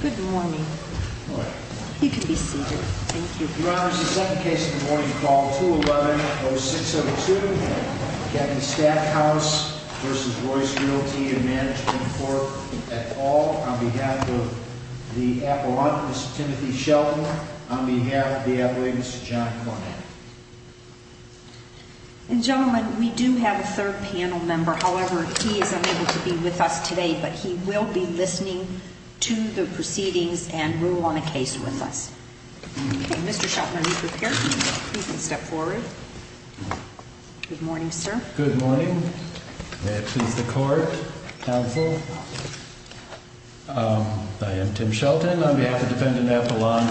Good morning. You can be seated. Thank you. Your Honor, this is the second case of the morning. Call 211-0602. Captain Stackhouse v. Royce Realty and Management Court at all. On behalf of the appellant, Mr. Timothy Shelton. On behalf of the appellant, Mr. John Conant. And gentlemen, we do have a third panel member. However, he is unable to be with us today. But he will be listening to the proceedings and rule on a case with us. Mr. Shelton, are you prepared? You can step forward. Good morning, sir. Good morning. May it please the court, counsel. I am Tim Shelton on behalf of defendant Appellant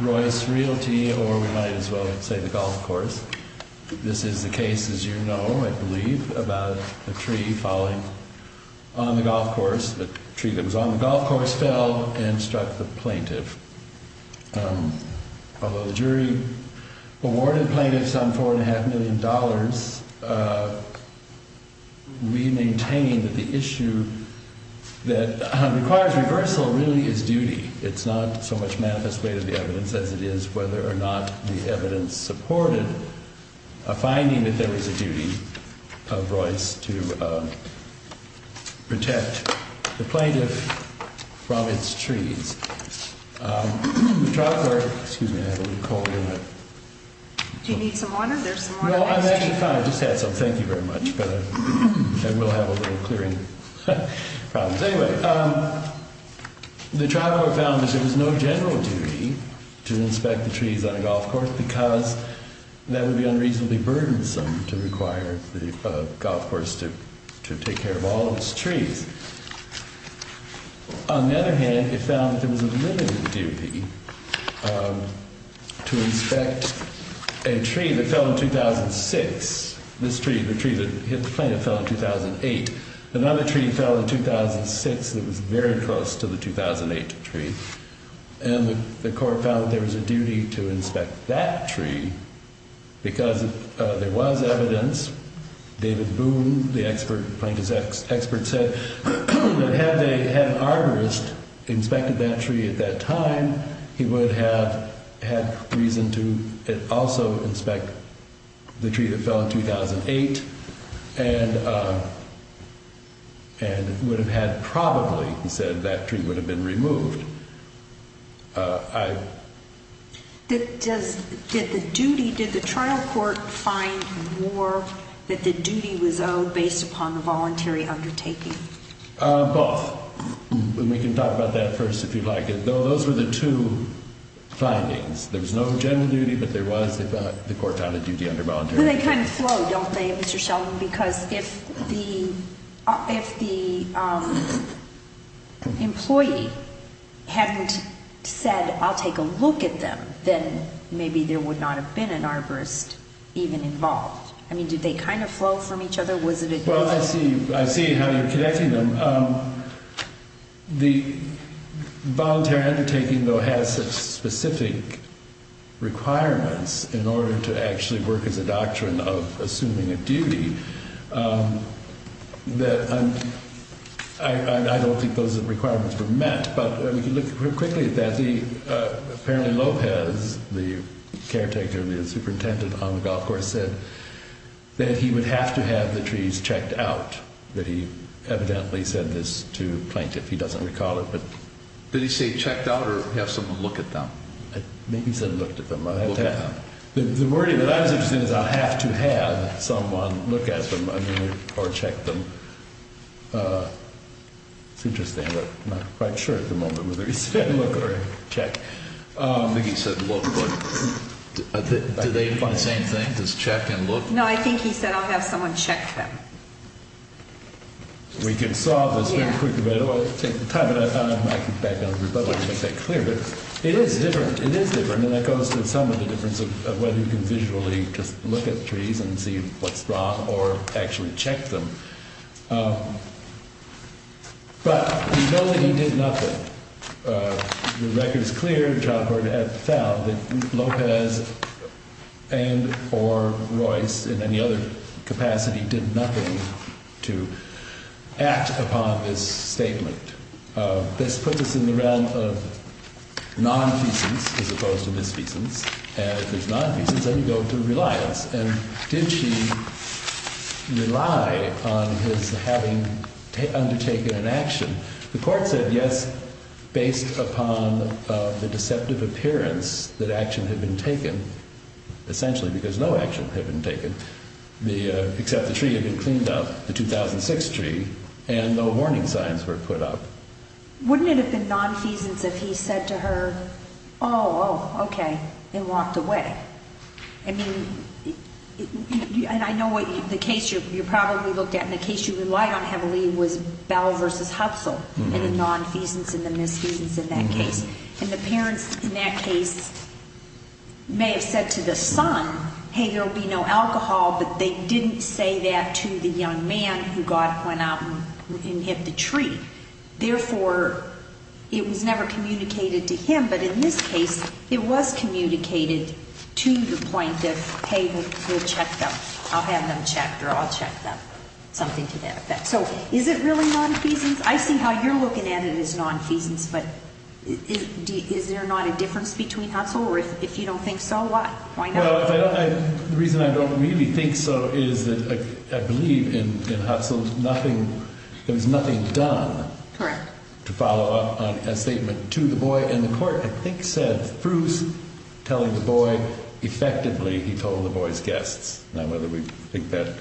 Royce Realty or we might as well say the golf course. This is the case, as you know, I believe, about a tree falling on the golf course. The tree that was on the golf course fell and struck the plaintiff. Although the jury awarded plaintiffs on $4.5 million, we maintain that the issue that requires reversal really is duty. It's not so much manifest way to the evidence as it is whether or not the evidence supported a finding that there was a duty of Royce to protect the plaintiff from its trees. The trial court, excuse me, I have a little cold. Do you need some water? No, I'm actually fine. I just had some. Thank you very much. I will have a little clearing problems. Anyway, the trial court found that there was no general duty to inspect the trees on a golf course because that would be unreasonably burdensome to require the golf course to take care of all of its trees. On the other hand, it found that there was a limited duty to inspect a tree that fell in 2006. This tree, the tree that hit the plaintiff, fell in 2008. Another tree fell in 2006 that was very close to the 2008 tree. And the court found there was a duty to inspect that tree because there was evidence. David Boone, the plaintiff's expert, said that had an arborist inspected that tree at that time, he would have had reason to also inspect the tree that fell in 2008 and would have had probably, he said, that tree would have been removed. Did the duty, did the trial court find more that the duty was owed based upon the voluntary undertaking? Both. We can talk about that first if you'd like. Those were the two findings. There was no general duty, but there was, the court found, a duty under voluntary undertaking. Do they kind of flow, don't they, Mr. Sheldon? Because if the employee hadn't said, I'll take a look at them, then maybe there would not have been an arborist even involved. I mean, did they kind of flow from each other? Well, I see how you're connecting them. The voluntary undertaking, though, has specific requirements in order to actually work as a doctrine of assuming a duty. I don't think those requirements were met, but we can look quickly at that. Apparently, Lopez, the caretaker, the superintendent on the golf course, said that he would have to have the trees checked out, that he evidently said this to a plaintiff. He doesn't recall it. Did he say checked out or have someone look at them? Maybe he said looked at them. The wording that I was interested in is I'll have to have someone look at them or check them. It's interesting, but I'm not quite sure at the moment whether he said look or check. I think he said look. Do they do the same thing? Does check and look? No, I think he said I'll have someone check them. We can solve this very quickly. I don't want to take the time. I could back down to the republic and make that clear. But it is different. It is different. That goes to some of the difference of whether you can visually just look at trees and see what's wrong or actually check them. But we know that he did nothing. The record is clear. The child court has found that Lopez and or Royce in any other capacity did nothing to act upon this statement. This puts us in the realm of non-feasance as opposed to misfeasance. And if there's non-feasance, then you go to reliance. And did she rely on his having undertaken an action? The court said yes based upon the deceptive appearance that action had been taken. Essentially because no action had been taken except the tree had been cleaned up, the 2006 tree. And no warning signs were put up. Wouldn't it have been non-feasance if he said to her, oh, oh, okay, and walked away? I mean, and I know the case you probably looked at and the case you relied on heavily was Bell v. Hupsel. And the non-feasance and the misfeasance in that case. And the parents in that case may have said to the son, hey, there will be no alcohol. But they didn't say that to the young man who went out and hit the tree. Therefore, it was never communicated to him. But in this case, it was communicated to the point of, hey, we'll check them. I'll have them checked or I'll check them, something to that effect. So is it really non-feasance? I see how you're looking at it as non-feasance. But is there not a difference between Hupsel? Or if you don't think so, why? Well, the reason I don't really think so is that I believe in Hupsel there was nothing done to follow up on a statement to the boy. And the court, I think, said through telling the boy effectively he told the boy's guests. Now, whether we think that,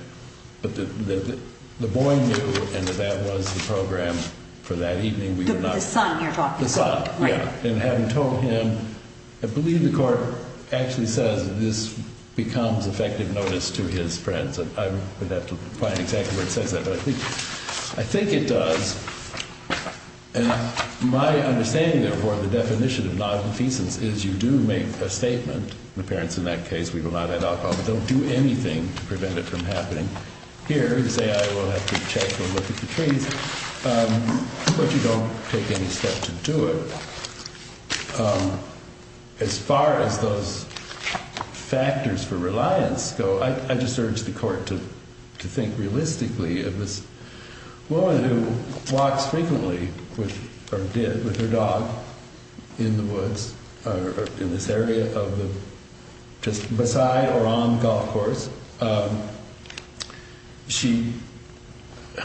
but the boy knew and that that was the program for that evening. The son you're talking about. The son, yeah. And having told him, I believe the court actually says this becomes effective notice to his friends. And I would have to find exactly where it says that. But I think it does. And my understanding, therefore, of the definition of non-feasance is you do make a statement. The parents in that case, we will not add alcohol. But don't do anything to prevent it from happening. Here, you say I will have to check and look at the trees. But you don't take any step to do it. As far as those factors for reliance go, I just urge the court to think realistically of this woman who walks frequently with her dog in the woods or in this area beside or on the golf course.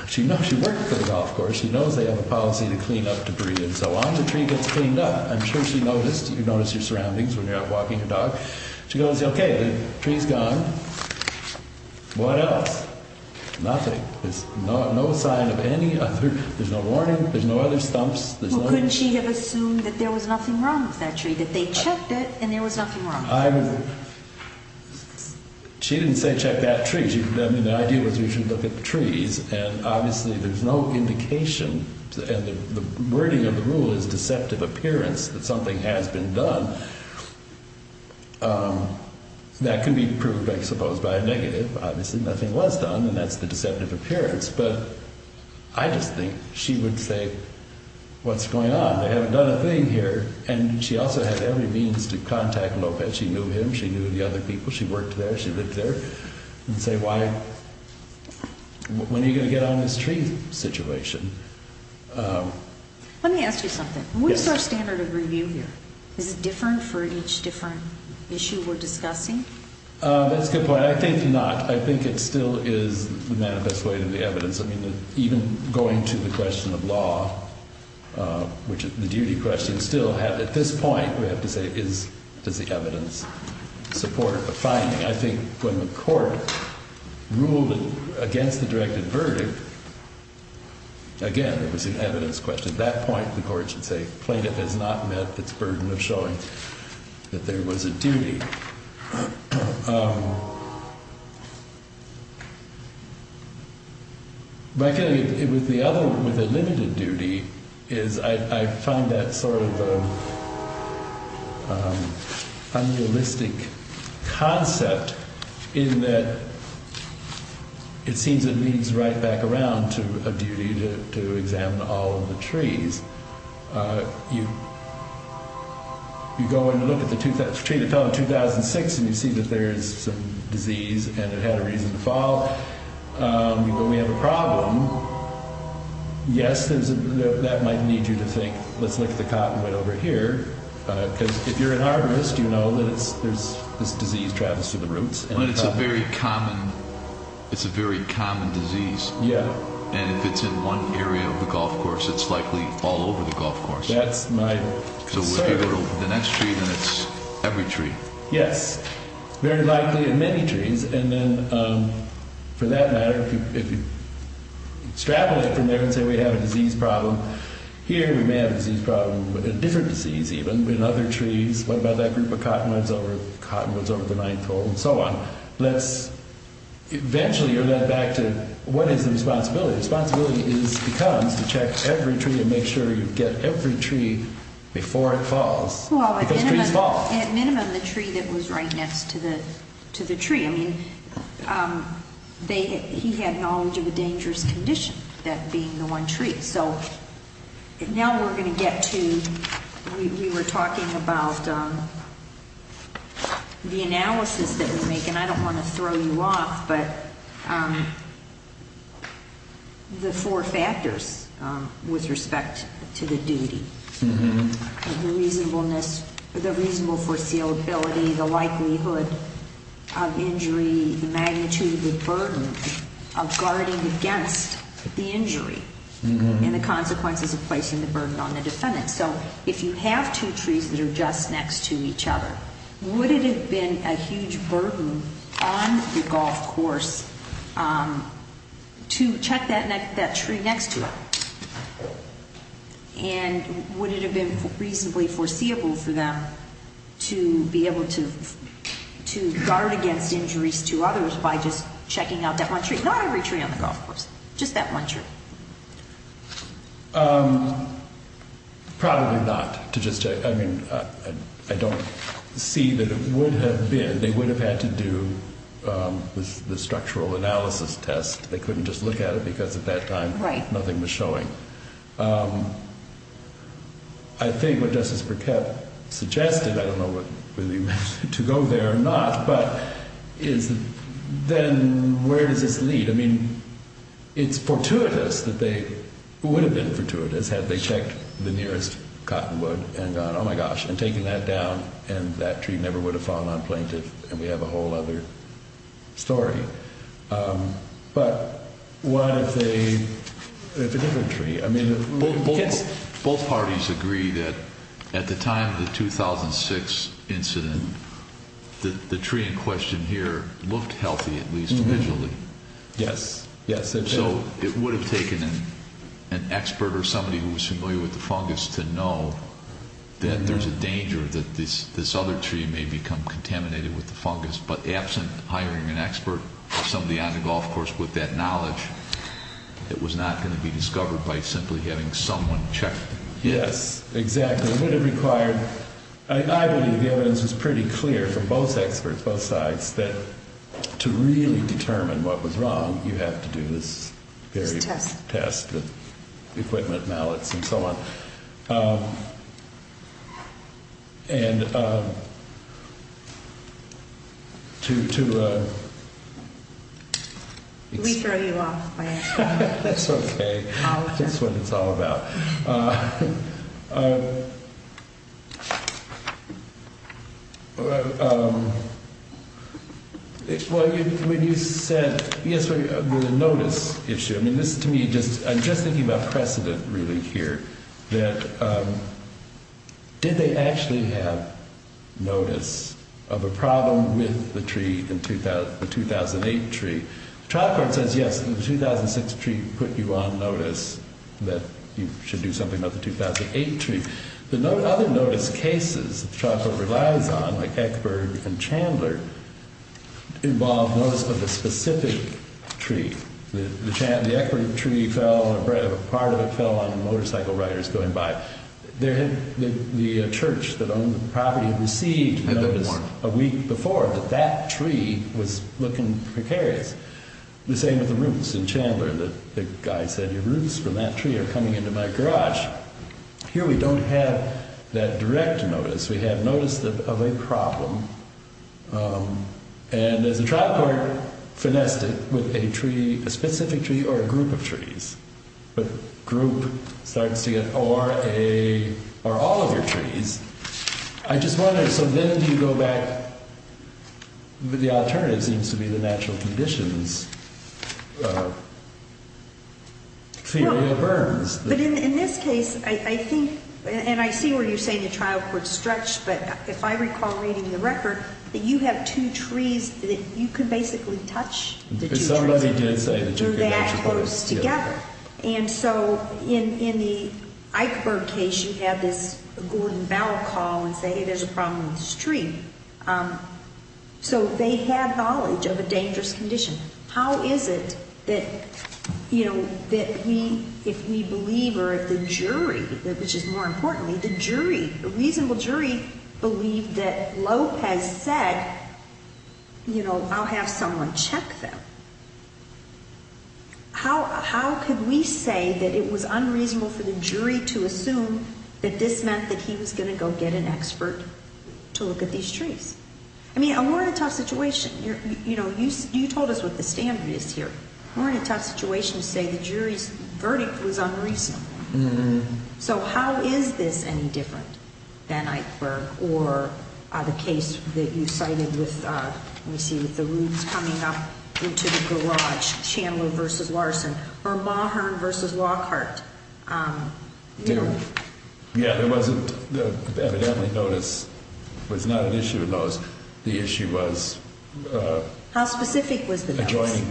She works for the golf course. She knows they have a policy to clean up debris and so on. The tree gets cleaned up. I'm sure she noticed. You notice your surroundings when you're out walking your dog. She goes, OK, the tree's gone. What else? Nothing. There's no sign of any other. There's no warning. There's no other stumps. Well, couldn't she have assumed that there was nothing wrong with that tree, that they checked it and there was nothing wrong with it? She didn't say check that tree. The idea was we should look at the trees. And obviously, there's no indication. And the wording of the rule is deceptive appearance that something has been done. That can be proved, I suppose, by a negative. Obviously, nothing was done. And that's the deceptive appearance. But I just think she would say, what's going on? They haven't done a thing here. And she also had every means to contact Lopez. She knew him. She knew the other people. She worked there. She lived there. And say, when are you going to get on this tree situation? Let me ask you something. What is our standard of review here? Is it different for each different issue we're discussing? That's a good point. I think not. I think it still is the manifest way to the evidence. I mean, even going to the question of law, which the duty questions still have. At this point, we have to say, does the evidence support a finding? I think when the court ruled against the directed verdict, again, it was an evidence question. At that point, the court should say, plaintiff has not met its burden of showing that there was a duty. My feeling with the limited duty is I find that sort of unrealistic concept in that it seems it leads right back around to a duty to examine all of the trees. You go and look at the tree that fell in 2006, and you see that there is some disease, and it had a reason to fall. But we have a problem. Yes, that might need you to think, let's look at the cottonwood over here. Because if you're an arborist, you know that this disease travels through the roots. But it's a very common disease. Yeah. And if it's in one area of the golf course, it's likely all over the golf course. That's my concern. So if you go to the next tree, then it's every tree. Yes, very likely in many trees. And then for that matter, if you straddle it from there and say we have a disease problem, here we may have a disease problem, a different disease even, in other trees. What about that group of cottonwoods over the ninth hole and so on? Let's eventually go back to what is the responsibility? The responsibility becomes to check every tree and make sure you get every tree before it falls. Well, at minimum, the tree that was right next to the tree. He had knowledge of a dangerous condition, that being the one tree. So now we're going to get to, we were talking about the analysis that we make, and I don't want to throw you off, but the four factors with respect to the duty. The reasonableness, the reasonable foreseeability, the likelihood of injury, the magnitude of the burden of guarding against the injury, and the consequences of placing the burden on the defendant. So if you have two trees that are just next to each other, would it have been a huge burden on the golf course to check that tree next to it? And would it have been reasonably foreseeable for them to be able to guard against injuries to others by just checking out that one tree? Not every tree on the golf course, just that one tree. Probably not. I mean, I don't see that it would have been. They would have had to do the structural analysis test. They couldn't just look at it because at that time nothing was showing. I think what Justice Burkett suggested, I don't know whether he meant to go there or not, but is then where does this lead? I mean, it's fortuitous that they would have been fortuitous had they checked the nearest cottonwood and gone, oh, my gosh, and taken that down, and that tree never would have fallen on plaintiff, and we have a whole other story. But what if a different tree? Both parties agree that at the time of the 2006 incident, the tree in question here looked healthy at least visually. Yes. So it would have taken an expert or somebody who was familiar with the fungus to know that there's a danger that this other tree may become contaminated with the fungus, but absent hiring an expert, somebody on the golf course with that knowledge, it was not going to be discovered by simply having someone check. Yes, exactly. I believe the evidence was pretty clear from both experts, both sides, that to really determine what was wrong, you have to do this very test with equipment, mallets, and so on. We throw you off by asking. That's okay. That's what it's all about. Well, when you said, yes, the notice issue, I mean, this is to me, I'm just thinking about precedent really here, that did they actually have notice of a problem with the tree, the 2008 tree? The trial court says, yes, the 2006 tree put you on notice that you should do something about the 2008 tree. The other notice cases the trial court relies on, like Eckberg and Chandler, involve notice of a specific tree. The Eckberg tree fell, a part of it fell on motorcycle riders going by. The church that owned the property received a notice a week before that that tree was looking precarious. The same with the roots in Chandler. The guy said, your roots from that tree are coming into my garage. Here we don't have that direct notice. We have notice of a problem. And there's a trial court finessed it with a tree, a specific tree, or a group of trees. But group starts to get, or a, or all of your trees. I just wonder, so then do you go back, the alternative seems to be the natural conditions theory of Burns. But in this case, I think, and I see where you're saying the trial court's stretched, but if I recall reading the record, that you have two trees that you can basically touch. Because somebody did say that you can touch a tree. They're that close together. And so in the Eckberg case, you have this Gordon Bauer call and say, hey, there's a problem with this tree. So they have knowledge of a dangerous condition. How is it that, you know, that we, if we believe, or if the jury, which is more importantly, the jury, the reasonable jury believed that Lopez said, you know, I'll have someone check them. How could we say that it was unreasonable for the jury to assume that this meant that he was going to go get an expert to look at these trees? I mean, we're in a tough situation. You know, you told us what the standard is here. We're in a tough situation to say the jury's verdict was unreasonable. So how is this any different than Eckberg or the case that you cited with, let me see, with the roots coming up into the garage, Chandler versus Larson, or Mahern versus Lockhart? Yeah, there was evidently notice was not an issue in those. The issue was how specific was the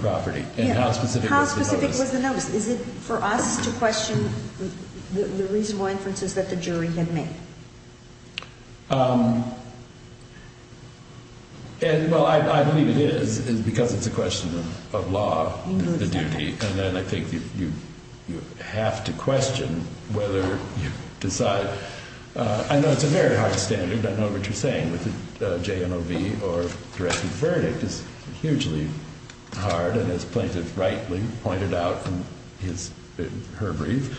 property and how specific was the notice? Is it for us to question the reasonable inferences that the jury had made? And, well, I believe it is because it's a question of law, the duty. And then I think you have to question whether you decide. I know it's a very hard standard. I know what you're saying with the JMOB or directed verdict is hugely hard. And as plaintiff rightly pointed out in her brief,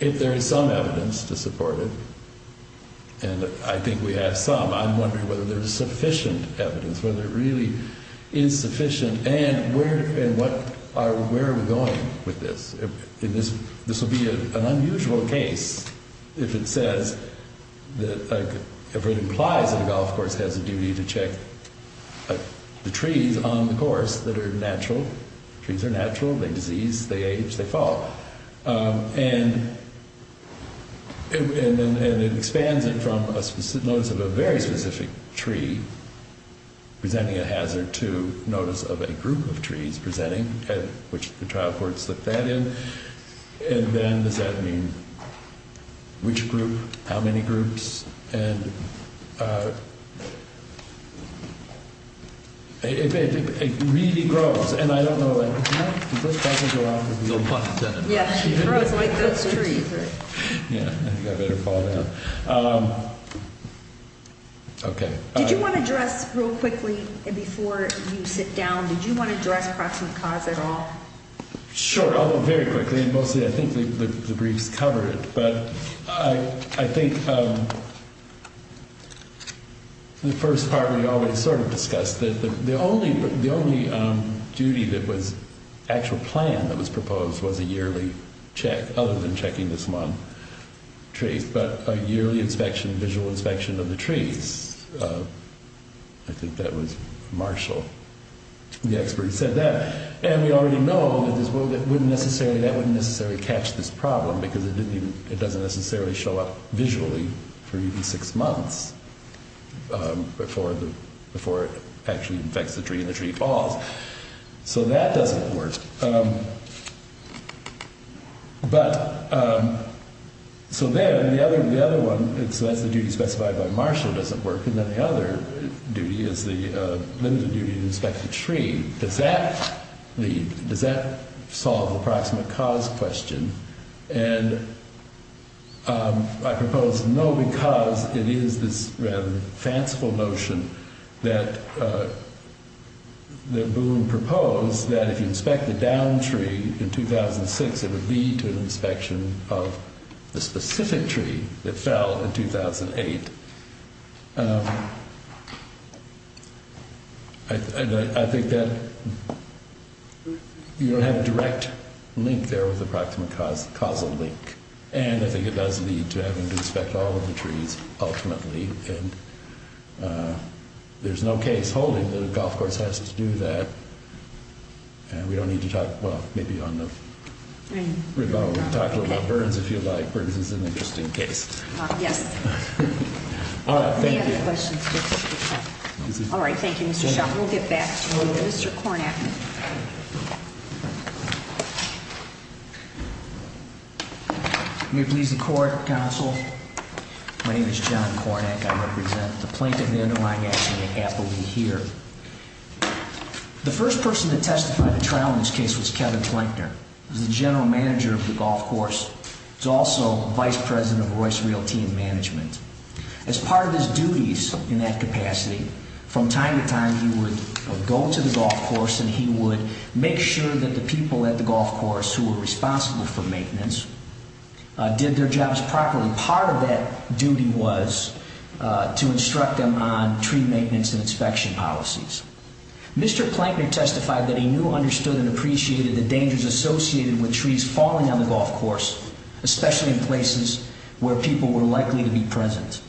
if there is some evidence to support it, and I think we have some, I'm wondering whether there's sufficient evidence, whether it really is sufficient, and where are we going with this? This will be an unusual case if it says, if it implies that a golf course has a duty to check the trees on the course that are natural. Trees are natural. They disease. They age. They fall. And it expands it from a notice of a very specific tree presenting a hazard to notice of a group of trees presenting, which the trial court slipped that in. And then does that mean which group, how many groups? And it really grows. And I don't know if this doesn't go off as a little pun intended. Yeah. It grows like those trees. Yeah. I think I better fall down. Okay. Did you want to address real quickly before you sit down, did you want to address proximate cause at all? Sure. I'll go very quickly. And mostly I think the briefs cover it. But I think the first part we always sort of discussed. The only duty that was actual plan that was proposed was a yearly check other than checking this one tree. But a yearly inspection, visual inspection of the trees. I think that was Marshall. The expert said that. And we already know that wouldn't necessarily catch this problem because it doesn't necessarily show up visually for even six months before it actually infects the tree and the tree falls. So that doesn't work. But so then the other one, so that's the duty specified by Marshall doesn't work. And then the other duty is the limited duty to inspect the tree. Does that lead? Does that solve the proximate cause question? And I propose no, because it is this rather fanciful notion that the boom proposed that if you inspect the downed tree in 2006, it would lead to an inspection of the specific tree that fell in 2008. I think that you don't have a direct link there with the proximate causal link. And I think it does lead to having to inspect all of the trees ultimately. And there's no case holding that a golf course has to do that. And we don't need to talk, well, maybe on the revo, talk a little about Burns if you like. Burns is an interesting case. Yes. All right. Thank you. All right. Thank you. We'll get back to Mr. Kornack. May it please the court. Counsel. My name is John Kornack. I represent the plaintiff. They're doing it happily here. The first person to testify to trial in this case was Kevin Plankner, the general manager of the golf course. He's also vice president of Royce Realty and Management. As part of his duties in that capacity, from time to time he would go to the golf course and he would make sure that the people at the golf course who were responsible for maintenance did their jobs properly. Part of that duty was to instruct them on tree maintenance and inspection policies. Mr. Plankner testified that he knew, understood, and appreciated the dangers associated with trees falling on the golf course, especially in places where people were likely to be present.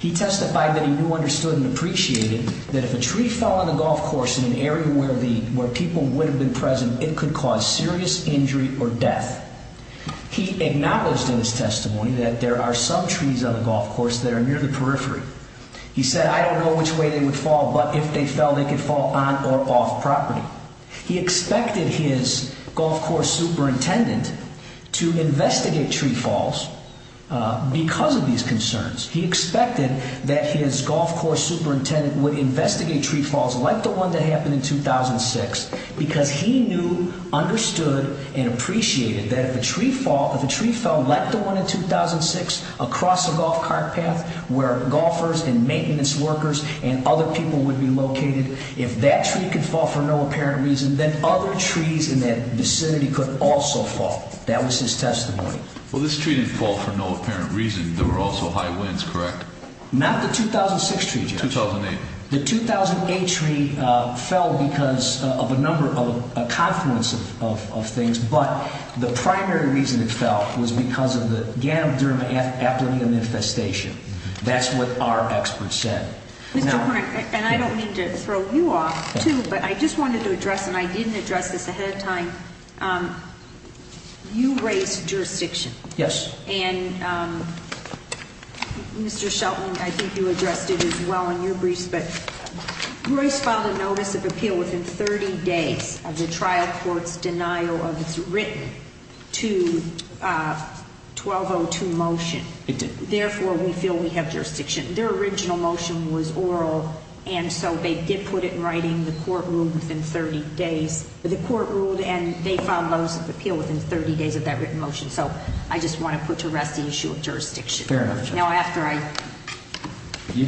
He testified that he knew, understood, and appreciated that if a tree fell on the golf course in an area where people would have been present, it could cause serious injury or death. He acknowledged in his testimony that there are some trees on the golf course that are near the periphery. He said, I don't know which way they would fall, but if they fell, they could fall on or off property. He expected his golf course superintendent to investigate tree falls because of these concerns. He expected that his golf course superintendent would investigate tree falls like the one that happened in 2006 because he knew, understood, and appreciated that if a tree fell like the one in 2006 across the golf cart path where golfers and maintenance workers and other people would be located, if that tree could fall for no apparent reason, then other trees in that vicinity could also fall. That was his testimony. Well, this tree didn't fall for no apparent reason. There were also high winds, correct? Not the 2006 tree, Judge. 2008. The 2008 tree fell because of a number of, a confluence of things. But the primary reason it fell was because of the Ganonderma aplatinum infestation. That's what our expert said. And I don't mean to throw you off too, but I just wanted to address, and I didn't address this ahead of time, you raised jurisdiction. Yes. And Mr. Shelton, I think you addressed it as well in your briefs, but Royce filed a notice of appeal within 30 days of the trial court's denial of its written to 1202 motion. It did. Therefore, we feel we have jurisdiction. Their original motion was oral, and so they did put it in writing. The court ruled within 30 days. The court ruled, and they filed a notice of appeal within 30 days of that written motion. So I just want to put to rest the issue of jurisdiction. Fair enough, Judge. Now, after I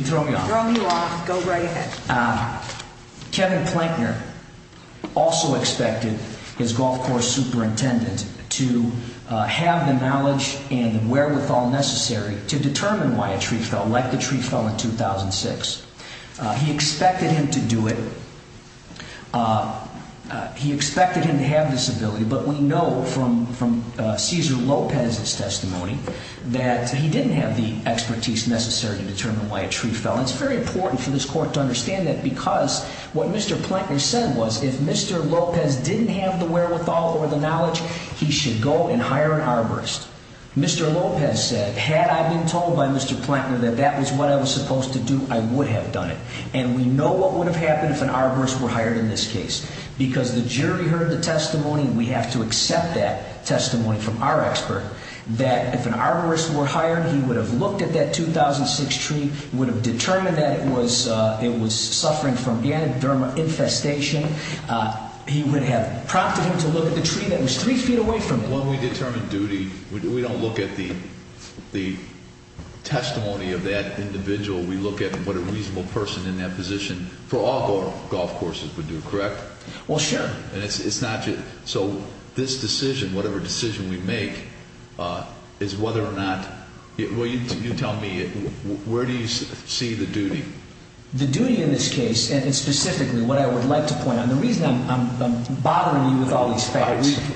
throw you off, go right ahead. Kevin Plankner also expected his golf course superintendent to have the knowledge and wherewithal necessary to determine why a tree fell, like the tree fell in 2006. He expected him to do it. He expected him to have this ability, but we know from Cesar Lopez's testimony that he didn't have the expertise necessary to determine why a tree fell. It's very important for this court to understand that because what Mr. Plankner said was if Mr. Lopez didn't have the wherewithal or the knowledge, he should go and hire an arborist. Mr. Lopez said, had I been told by Mr. Plankner that that was what I was supposed to do, I would have done it. And we know what would have happened if an arborist were hired in this case because the jury heard the testimony. We have to accept that testimony from our expert, that if an arborist were hired, he would have looked at that 2006 tree, would have determined that it was suffering from ganoderma infestation. He would have prompted him to look at the tree that was three feet away from him. When we determine duty, we don't look at the testimony of that individual. We look at what a reasonable person in that position for all golf courses would do, correct? Well, sure. So this decision, whatever decision we make, is whether or not – well, you tell me, where do you see the duty? The duty in this case, and specifically what I would like to point out, the reason I'm bothering you with all these facts – Facts.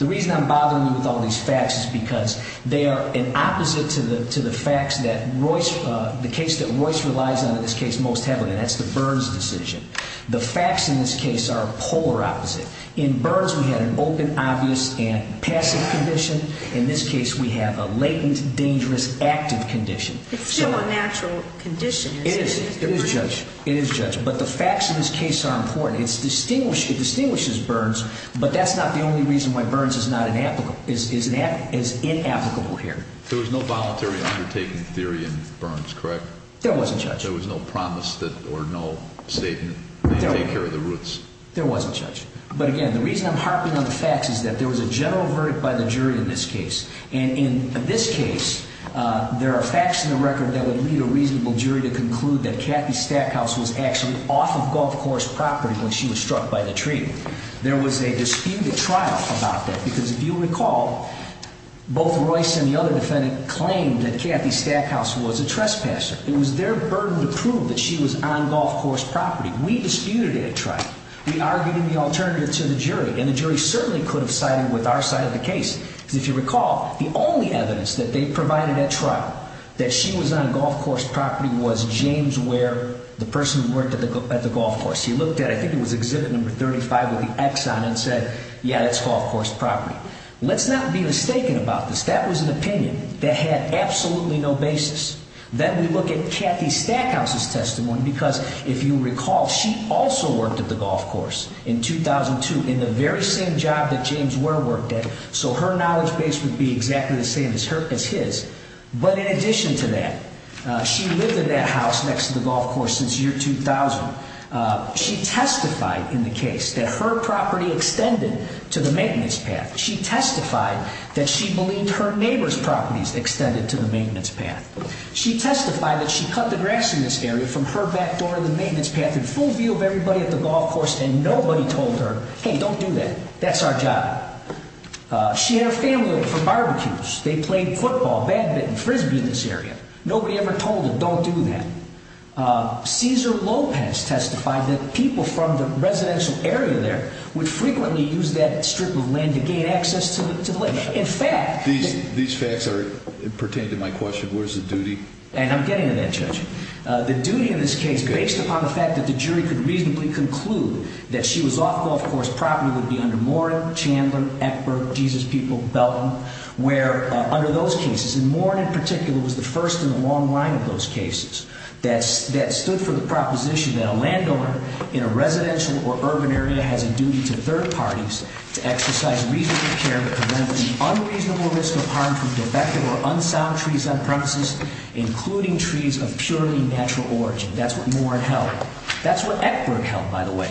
The reason I'm bothering you with all these facts is because they are an opposite to the facts that Royce – the case that Royce relies on in this case most heavily, and that's the Burns decision. The facts in this case are polar opposite. In Burns, we had an open, obvious, and passive condition. In this case, we have a latent, dangerous, active condition. It's still a natural condition. It is. It is, Judge. It is, Judge. But the facts in this case are important. It distinguishes Burns, but that's not the only reason why Burns is not an – is inapplicable here. There wasn't, Judge. There was no promise or no statement to take care of the roots. There wasn't, Judge. But again, the reason I'm harping on the facts is that there was a general verdict by the jury in this case. And in this case, there are facts in the record that would lead a reasonable jury to conclude that Kathy Stackhouse was actually off of Gulf Course property when she was struck by the tree. There was a disputed trial about that, because if you recall, both Royce and the other defendant claimed that Kathy Stackhouse was a trespasser. It was their burden to prove that she was on Gulf Course property. We disputed a trial. We argued in the alternative to the jury, and the jury certainly could have sided with our side of the case. If you recall, the only evidence that they provided at trial that she was on Gulf Course property was James Ware, the person who worked at the Gulf Course. He looked at – I think it was Exhibit No. 35 with the X on it and said, yeah, that's Gulf Course property. Let's not be mistaken about this. That was an opinion that had absolutely no basis. Then we look at Kathy Stackhouse's testimony, because if you recall, she also worked at the Gulf Course in 2002 in the very same job that James Ware worked at, so her knowledge base would be exactly the same as his. But in addition to that, she lived in that house next to the Gulf Course since year 2000. She testified in the case that her property extended to the maintenance path. She testified that she believed her neighbor's properties extended to the maintenance path. She testified that she cut the grass in this area from her back door in the maintenance path in full view of everybody at the Gulf Course, and nobody told her, hey, don't do that. That's our job. She had her family over for barbecues. They played football, badminton, frisbee in this area. Nobody ever told her, don't do that. Cesar Lopez testified that people from the residential area there would frequently use that strip of land to gain access to the lake. These facts pertain to my question. What is the duty? And I'm getting to that, Judge. The duty in this case, based upon the fact that the jury could reasonably conclude that she was off Gulf Course property, would be under Moran, Chandler, Eckberg, Jesus People, Belton, under those cases. And Moran, in particular, was the first in the long line of those cases that stood for the proposition that a landowner in a residential or urban area has a duty to third parties to exercise reasonable care to prevent unreasonable risk of harm from defective or unsound trees on premises, including trees of purely natural origin. That's what Moran held. That's what Eckberg held, by the way.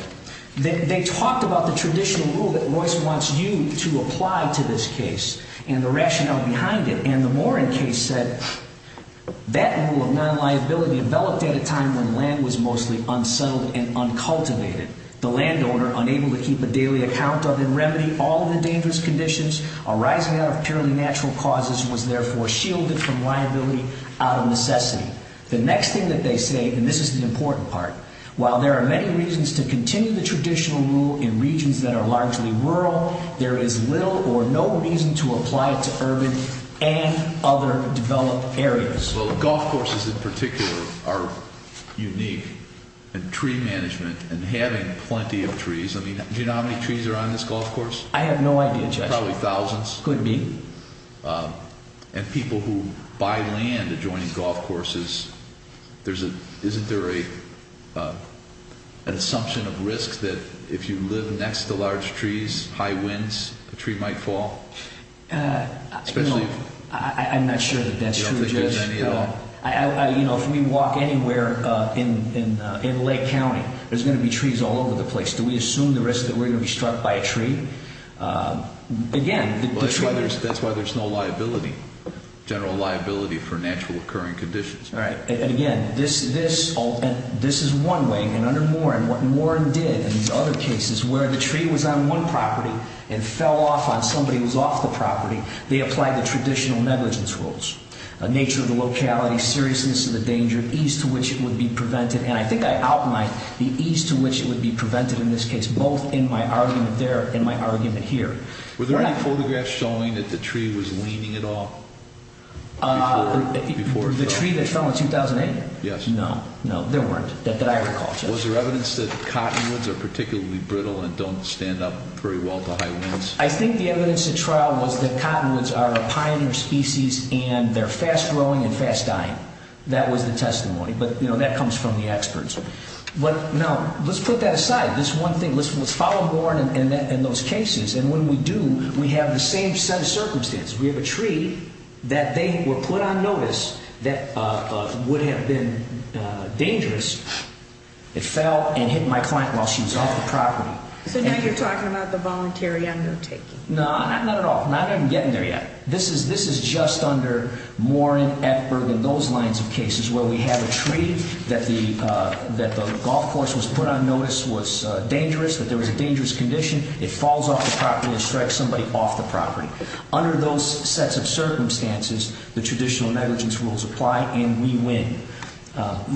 They talked about the traditional rule that Royce wants you to apply to this case and the rationale behind it. And the Moran case said that rule of non-liability developed at a time when land was mostly unsettled and uncultivated. The landowner, unable to keep a daily account of and remedy all of the dangerous conditions arising out of purely natural causes, was therefore shielded from liability out of necessity. The next thing that they say, and this is the important part, while there are many reasons to continue the traditional rule in regions that are largely rural, there is little or no reason to apply it to urban and other developed areas. Well, Gulf Courses in particular are unique in tree management and having plenty of trees. Do you know how many trees are on this Gulf Course? I have no idea, Judge. Probably thousands. Could be. And people who buy land adjoining Gulf Courses, isn't there an assumption of risk that if you live next to large trees, high winds, a tree might fall? I'm not sure that that's true, Judge. You don't think there's any at all? If we walk anywhere in Lake County, there's going to be trees all over the place. Do we assume the risk that we're going to be struck by a tree? That's why there's no liability, general liability for natural occurring conditions. All right. And again, this is one way, and under Warren, what Warren did in these other cases where the tree was on one property and fell off on somebody who was off the property, they applied the traditional negligence rules. Nature of the locality, seriousness of the danger, ease to which it would be prevented. And I think I outlined the ease to which it would be prevented in this case, both in my argument there and my argument here. Were there any photographs showing that the tree was leaning at all before it fell? The tree that fell in 2008? Yes. No. No, there weren't, that I recall, Judge. Was there evidence that cottonwoods are particularly brittle and don't stand up very well to high winds? I think the evidence at trial was that cottonwoods are a pioneer species and they're fast-growing and fast-dying. That was the testimony. But, you know, that comes from the experts. But, no, let's put that aside. This one thing, let's follow Warren in those cases. And when we do, we have the same set of circumstances. We have a tree that they were put on notice that would have been dangerous. It fell and hit my client while she was off the property. So now you're talking about the voluntary undertaking. No, not at all. I'm not even getting there yet. This is just under Warren, Eckberg, and those lines of cases where we have a tree that the golf course was put on notice was dangerous, that there was a dangerous condition. It falls off the property and strikes somebody off the property. Under those sets of circumstances, the traditional negligence rules apply, and we win.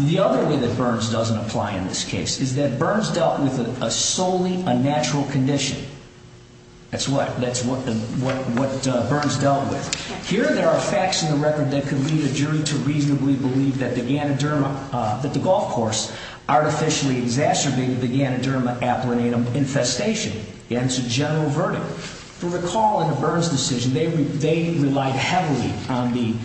The other way that Burns doesn't apply in this case is that Burns dealt with solely a natural condition. That's what Burns dealt with. Here there are facts in the record that could lead a jury to reasonably believe that the golf course artificially exacerbated the Ganoderma aplanatum infestation. Again, it's a general verdict. If you recall in Burns' decision, they relied heavily on the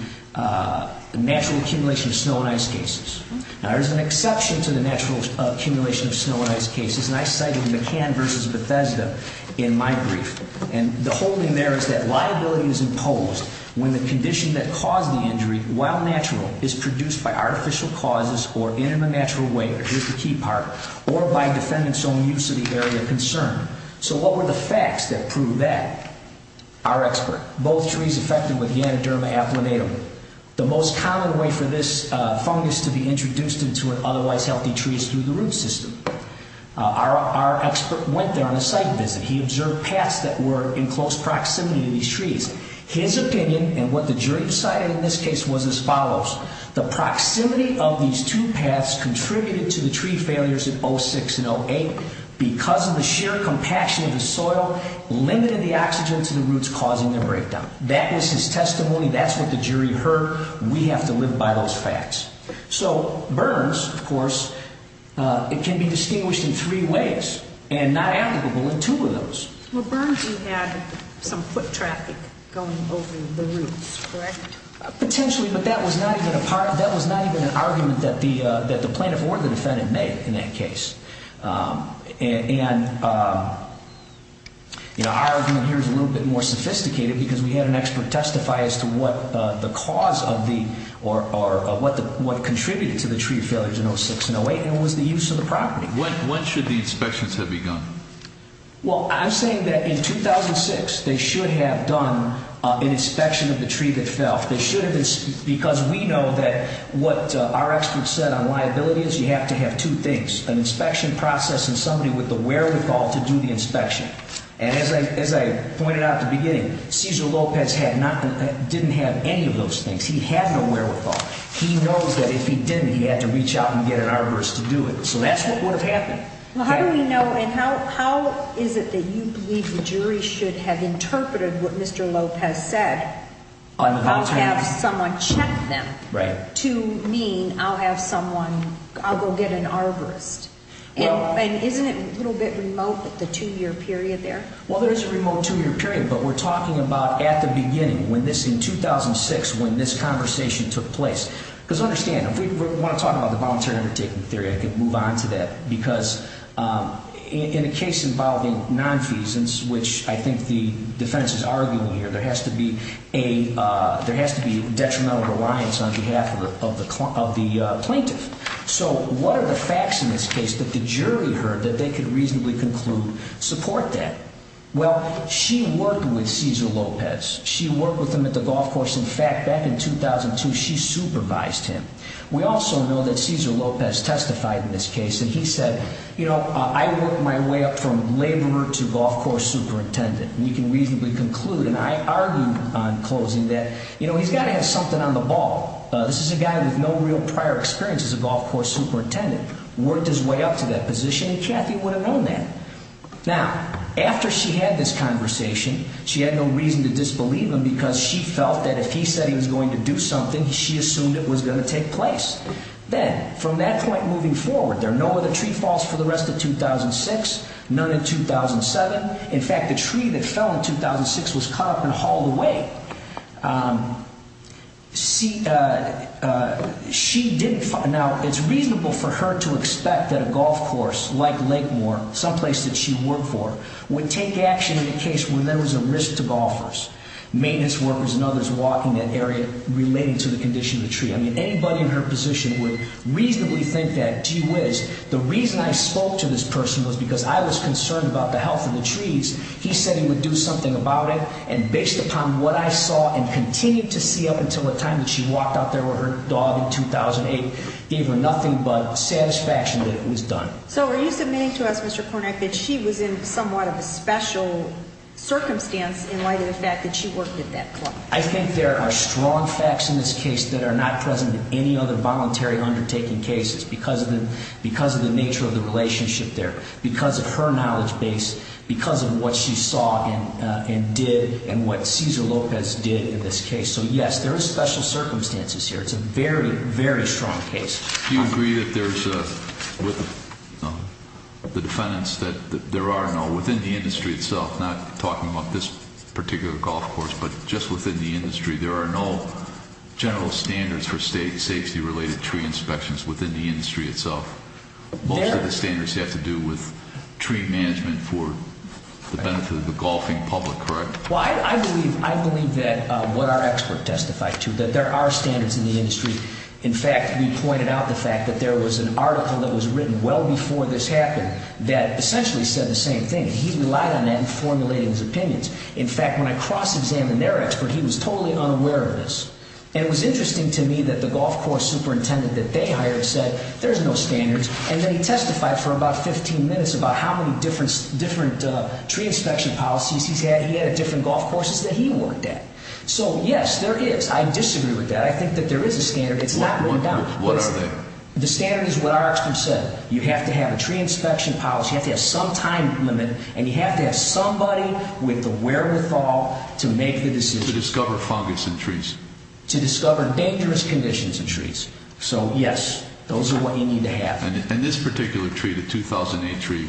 natural accumulation of snow and ice cases. Now, there's an exception to the natural accumulation of snow and ice cases, and I cited McCann v. Bethesda in my brief. And the whole thing there is that liability is imposed when the condition that caused the injury, while natural, is produced by artificial causes or in a natural way, or here's the key part, or by defendant's own use of the area of concern. So what were the facts that prove that? Our expert. Both trees affected with Ganoderma aplanatum. The most common way for this fungus to be introduced into an otherwise healthy tree is through the root system. Our expert went there on a site visit. He observed paths that were in close proximity to these trees. His opinion, and what the jury decided in this case, was as follows. The proximity of these two paths contributed to the tree failures in 06 and 08 because of the sheer compaction of the soil limiting the oxygen to the roots causing the breakdown. That was his testimony. That's what the jury heard. We have to live by those facts. So Burns, of course, it can be distinguished in three ways and not applicable in two of those. Well, Burns, you had some foot traffic going over the roots, correct? Potentially, but that was not even an argument that the plaintiff or the defendant made in that case. And, you know, our argument here is a little bit more sophisticated because we had an expert testify as to what the cause of the or what contributed to the tree failures in 06 and 08 and it was the use of the property. When should the inspections have begun? Well, I'm saying that in 2006 they should have done an inspection of the tree that fell. They should have because we know that what our experts said on liability is you have to have two things, an inspection process and somebody with the wherewithal to do the inspection. And as I pointed out at the beginning, Cesar Lopez didn't have any of those things. He had no wherewithal. He knows that if he didn't, he had to reach out and get an arborist to do it. So that's what would have happened. Well, how do we know and how is it that you believe the jury should have interpreted what Mr. Lopez said? I'll have someone check them to mean I'll have someone, I'll go get an arborist. And isn't it a little bit remote with the two-year period there? Well, there is a remote two-year period, but we're talking about at the beginning when this in 2006 when this conversation took place. Because understand, if we want to talk about the voluntary undertaking theory, I could move on to that. Because in a case involving nonfeasance, which I think the defense is arguing here, there has to be detrimental reliance on behalf of the plaintiff. So what are the facts in this case that the jury heard that they could reasonably conclude support that? Well, she worked with Cesar Lopez. She worked with him at the golf course. In fact, back in 2002, she supervised him. We also know that Cesar Lopez testified in this case, and he said, you know, I worked my way up from laborer to golf course superintendent. And you can reasonably conclude, and I argued on closing that, you know, he's got to have something on the ball. This is a guy with no real prior experience as a golf course superintendent, worked his way up to that position, and Kathy would have known that. Now, after she had this conversation, she had no reason to disbelieve him because she felt that if he said he was going to do something, she assumed it was going to take place. Then, from that point moving forward, there are no other tree falls for the rest of 2006, none in 2007. In fact, the tree that fell in 2006 was cut up and hauled away. Now, it's reasonable for her to expect that a golf course like Lakemore, someplace that she worked for, would take action in a case where there was a risk to golfers, maintenance workers and others walking that area relating to the condition of the tree. I mean, anybody in her position would reasonably think that, gee whiz, the reason I spoke to this person was because I was concerned about the health of the trees. He said he would do something about it, and based upon what I saw and continued to see up until the time that she walked out there with her dog in 2008, gave her nothing but satisfaction that it was done. So, are you submitting to us, Mr. Kornack, that she was in somewhat of a special circumstance in light of the fact that she worked at that club? I think there are strong facts in this case that are not present in any other voluntary undertaking cases because of the nature of the relationship there, because of her knowledge base, because of what she saw and did, and what Cesar Lopez did in this case. So, yes, there are special circumstances here. It's a very, very strong case. Do you agree that there's, with the defendants, that there are no, within the industry itself, not talking about this particular golf course, but just within the industry, there are no general standards for state safety-related tree inspections within the industry itself? Most of the standards have to do with tree management for the benefit of the golfing public, correct? Well, I believe that what our expert testified to, that there are standards in the industry. In fact, we pointed out the fact that there was an article that was written well before this happened that essentially said the same thing. He relied on that in formulating his opinions. In fact, when I cross-examined their expert, he was totally unaware of this. And it was interesting to me that the golf course superintendent that they hired said, there's no standards. And then he testified for about 15 minutes about how many different tree inspection policies he's had. He had different golf courses that he worked at. So, yes, there is. I disagree with that. I think that there is a standard. It's not going down. What are they? The standard is what our expert said. You have to have a tree inspection policy. You have to have some time limit, and you have to have somebody with the wherewithal to make the decision. To discover fungus in trees. To discover dangerous conditions in trees. So, yes, those are what you need to have. And this particular tree, the 2008 tree,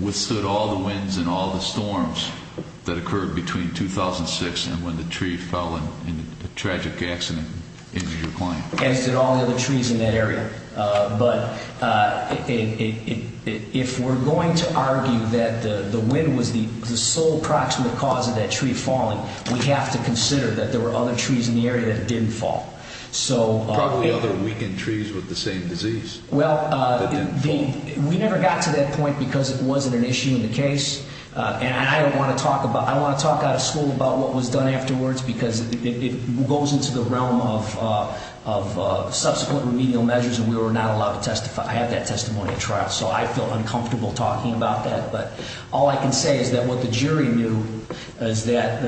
withstood all the winds and all the storms that occurred between 2006 and when the tree fell in a tragic accident. As did all the other trees in that area. But if we're going to argue that the wind was the sole proximate cause of that tree falling, we have to consider that there were other trees in the area that didn't fall. Probably other weakened trees with the same disease. Well, we never got to that point because it wasn't an issue in the case. And I don't want to talk about, I don't want to talk out of school about what was done afterwards because it goes into the realm of subsequent remedial measures, and we were not allowed to testify. I have that testimony at trial, so I feel uncomfortable talking about that. But all I can say is that what the jury knew is that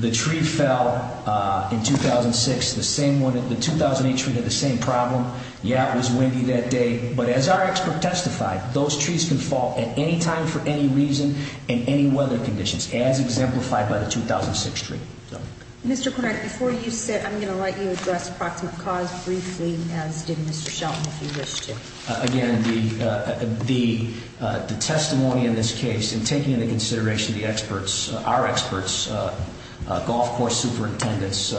the tree fell in 2006, the same one, the 2008 tree had the same problem. Yeah, it was windy that day. But as our expert testified, those trees can fall at any time for any reason in any weather conditions, as exemplified by the 2006 tree. Mr. Cornett, before you sit, I'm going to let you address proximate cause briefly, as did Mr. Shelton, if you wish to. Again, the testimony in this case, in taking into consideration the experts, our experts, golf course superintendents,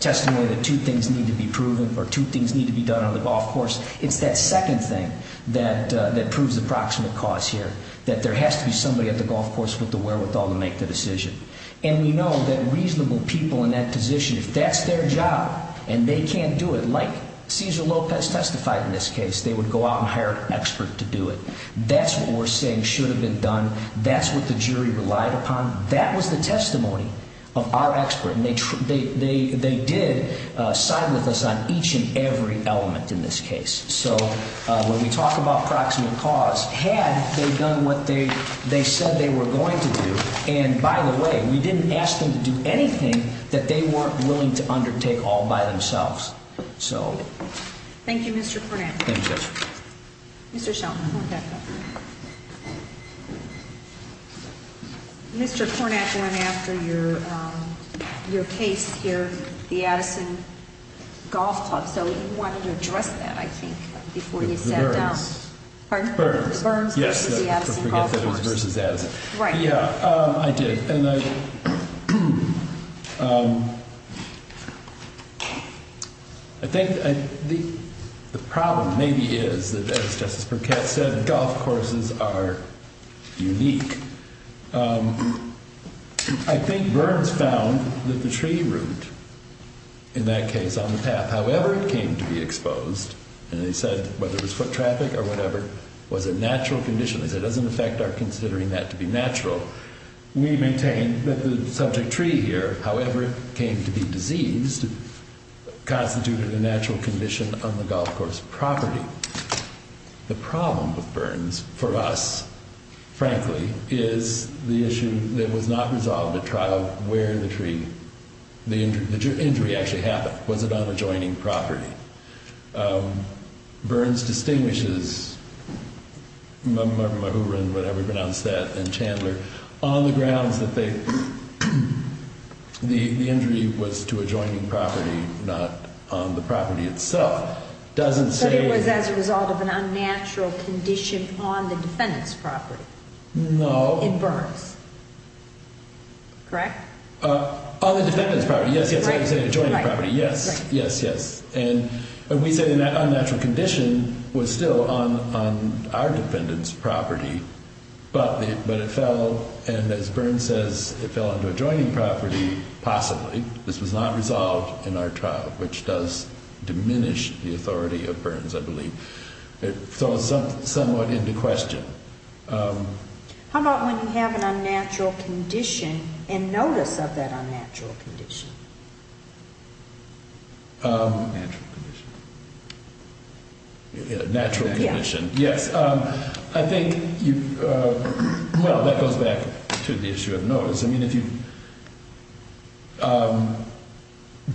testimony that two things need to be proven or two things need to be done on the golf course, it's that second thing that proves the proximate cause here, that there has to be somebody at the golf course with the wherewithal to make the decision. And we know that reasonable people in that position, if that's their job and they can't do it, like Cesar Lopez testified in this case, they would go out and hire an expert to do it. That's what we're saying should have been done. That's what the jury relied upon. That was the testimony of our expert. And they did side with us on each and every element in this case. So when we talk about proximate cause, had they done what they said they were going to do, and by the way, we didn't ask them to do anything that they weren't willing to undertake all by themselves. So thank you, Mr. Cornett. Thank you, Judge. Mr. Shelton. Mr. Cornett went after your case here, the Addison Golf Club. So you wanted to address that, I think, before you sat down. It was Burns. Pardon? Burns. Yes. I forget that it was versus Addison. Right. Yeah, I did. And I think the problem maybe is that, as Justice Burkett said, golf courses are unique. I think Burns found that the tree root in that case on the path, however it came to be exposed, and they said whether it was foot traffic or whatever, was a natural condition. They said it doesn't affect our considering that to be natural. We maintain that the subject tree here, however it came to be diseased, constituted a natural condition on the golf course property. The problem with Burns for us, frankly, is the issue that was not resolved at trial where the tree, the injury actually happened. Was it on adjoining property? Burns distinguishes, whatever you pronounce that, and Chandler, on the grounds that the injury was to adjoining property, not on the property itself. So it was as a result of an unnatural condition on the defendant's property? No. In Burns. Correct? On the defendant's property, yes, yes. Adjoining property, yes, yes, yes. And we say that unnatural condition was still on our defendant's property, but it fell, and as Burns says, it fell onto adjoining property, possibly. This was not resolved in our trial, which does diminish the authority of Burns, I believe. So it's somewhat into question. How about when you have an unnatural condition and notice of that unnatural condition? Natural condition. Natural condition, yes. I think you, well, that goes back to the issue of notice. I mean, if you,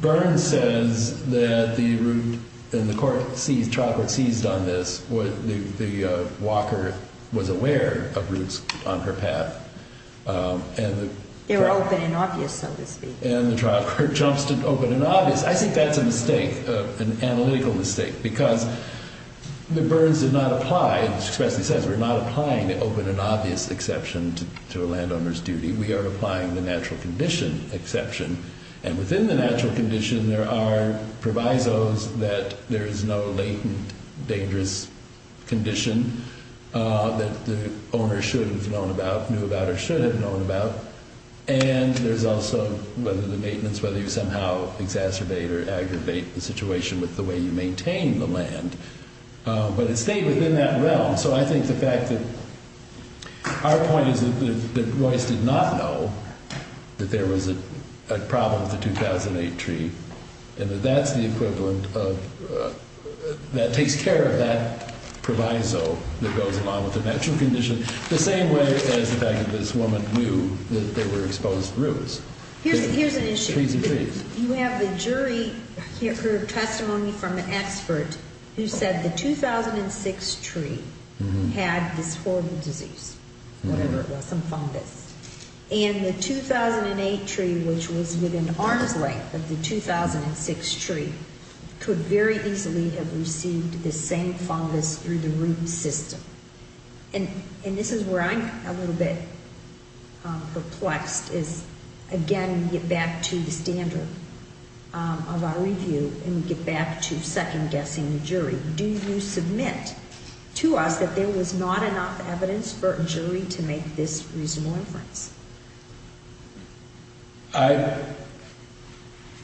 Burns says that the route, and the court seized, trial court seized on this, the walker was aware of routes on her path. They were open and obvious, so to speak. And the trial court jumps to open and obvious. I think that's a mistake, an analytical mistake, because the Burns did not apply, as he says, we're not applying the open and obvious exception to a landowner's duty. We are applying the natural condition exception. And within the natural condition, there are provisos that there is no latent dangerous condition that the owner should have known about, knew about, or should have known about. And there's also whether the maintenance, whether you somehow exacerbate or aggravate the situation with the way you maintain the land. But it stayed within that realm. So I think the fact that our point is that Royce did not know that there was a problem with the 2008 tree, and that that's the equivalent of, that takes care of that proviso that goes along with the natural condition. The same way as the fact that this woman knew that there were exposed roots. Here's an issue. Trees of trees. You have the jury, her testimony from an expert, who said the 2006 tree had this horrible disease, whatever it was, some fungus. And the 2008 tree, which was within arm's length of the 2006 tree, could very easily have received the same fungus through the root system. And this is where I'm a little bit perplexed is, again, we get back to the standard of our review, and we get back to second-guessing the jury. Do you submit to us that there was not enough evidence for a jury to make this reasonable inference? I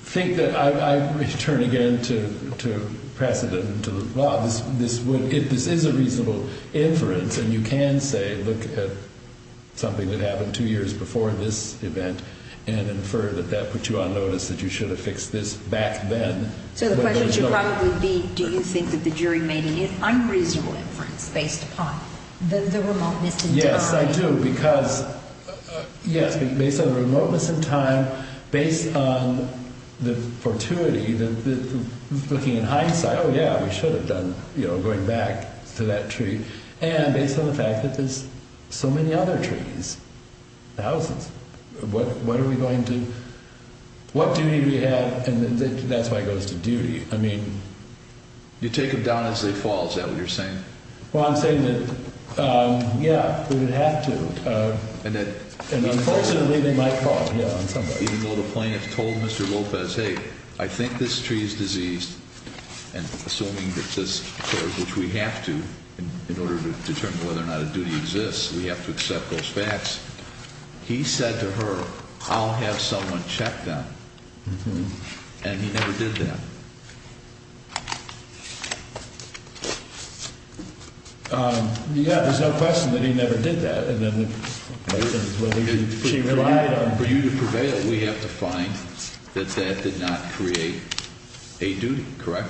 think that I return again to precedent and to the law. If this is a reasonable inference, and you can say, look at something that happened two years before this event and infer that that put you on notice that you should have fixed this back then. So the question should probably be, do you think that the jury made an unreasonable inference based upon the remoteness? Yes, I do. Because, yes, based on the remoteness in time, based on the fortuity, looking in hindsight, oh, yeah, we should have done, you know, going back to that tree. And based on the fact that there's so many other trees, thousands, what are we going to, what duty do we have? And that's why it goes to duty. I mean. You take them down as they fall. Is that what you're saying? Well, I'm saying that, yeah, we would have to. And unfortunately, they might fall. Even though the plaintiff told Mr. Lopez, hey, I think this tree is diseased. And assuming that this occurs, which we have to in order to determine whether or not a duty exists, we have to accept those facts. He said to her, I'll have someone check that. And he never did that. Yeah, there's no question that he never did that. And then. For you to prevail, we have to find that that did not create a duty. Correct?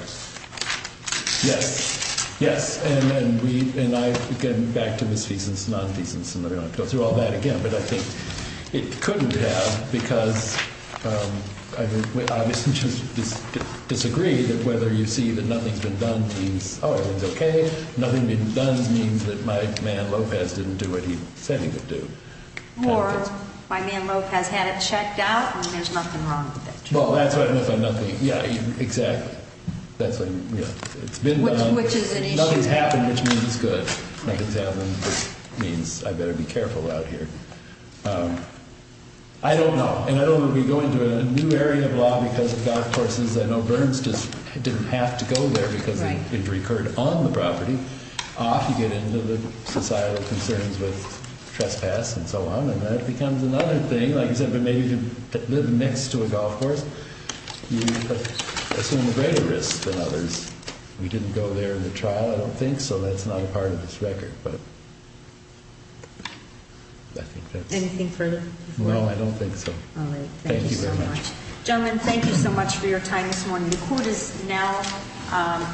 Yes. Yes. And I, again, back to misfeasance, non-feasance, and I don't want to go through all that again. But I think it couldn't have because I obviously just disagree that whether you see that nothing's been done means, oh, everything's okay. Nothing being done means that my man Lopez didn't do what he said he would do. Or my man Lopez had it checked out and there's nothing wrong with that tree. Well, that's what I mean by nothing. Yeah, exactly. That's what, you know, it's been done. Which is an issue. Nothing's happened, which means good. Nothing's happened, which means I better be careful out here. I don't know. And I don't want to be going to a new area of law because of golf courses. I know Burns just didn't have to go there because it recurred on the property. Off you get into the societal concerns with trespass and so on. And that becomes another thing, like you said, but maybe to live next to a golf course, you assume a greater risk than others. We didn't go there in the trial, I don't think, so that's not a part of this record. Anything further? No, I don't think so. All right. Thank you very much. Gentlemen, thank you so much for your time this morning. The court is now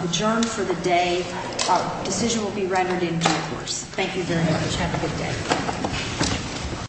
adjourned for the day. A decision will be rendered in due course. Thank you very much. Have a good day.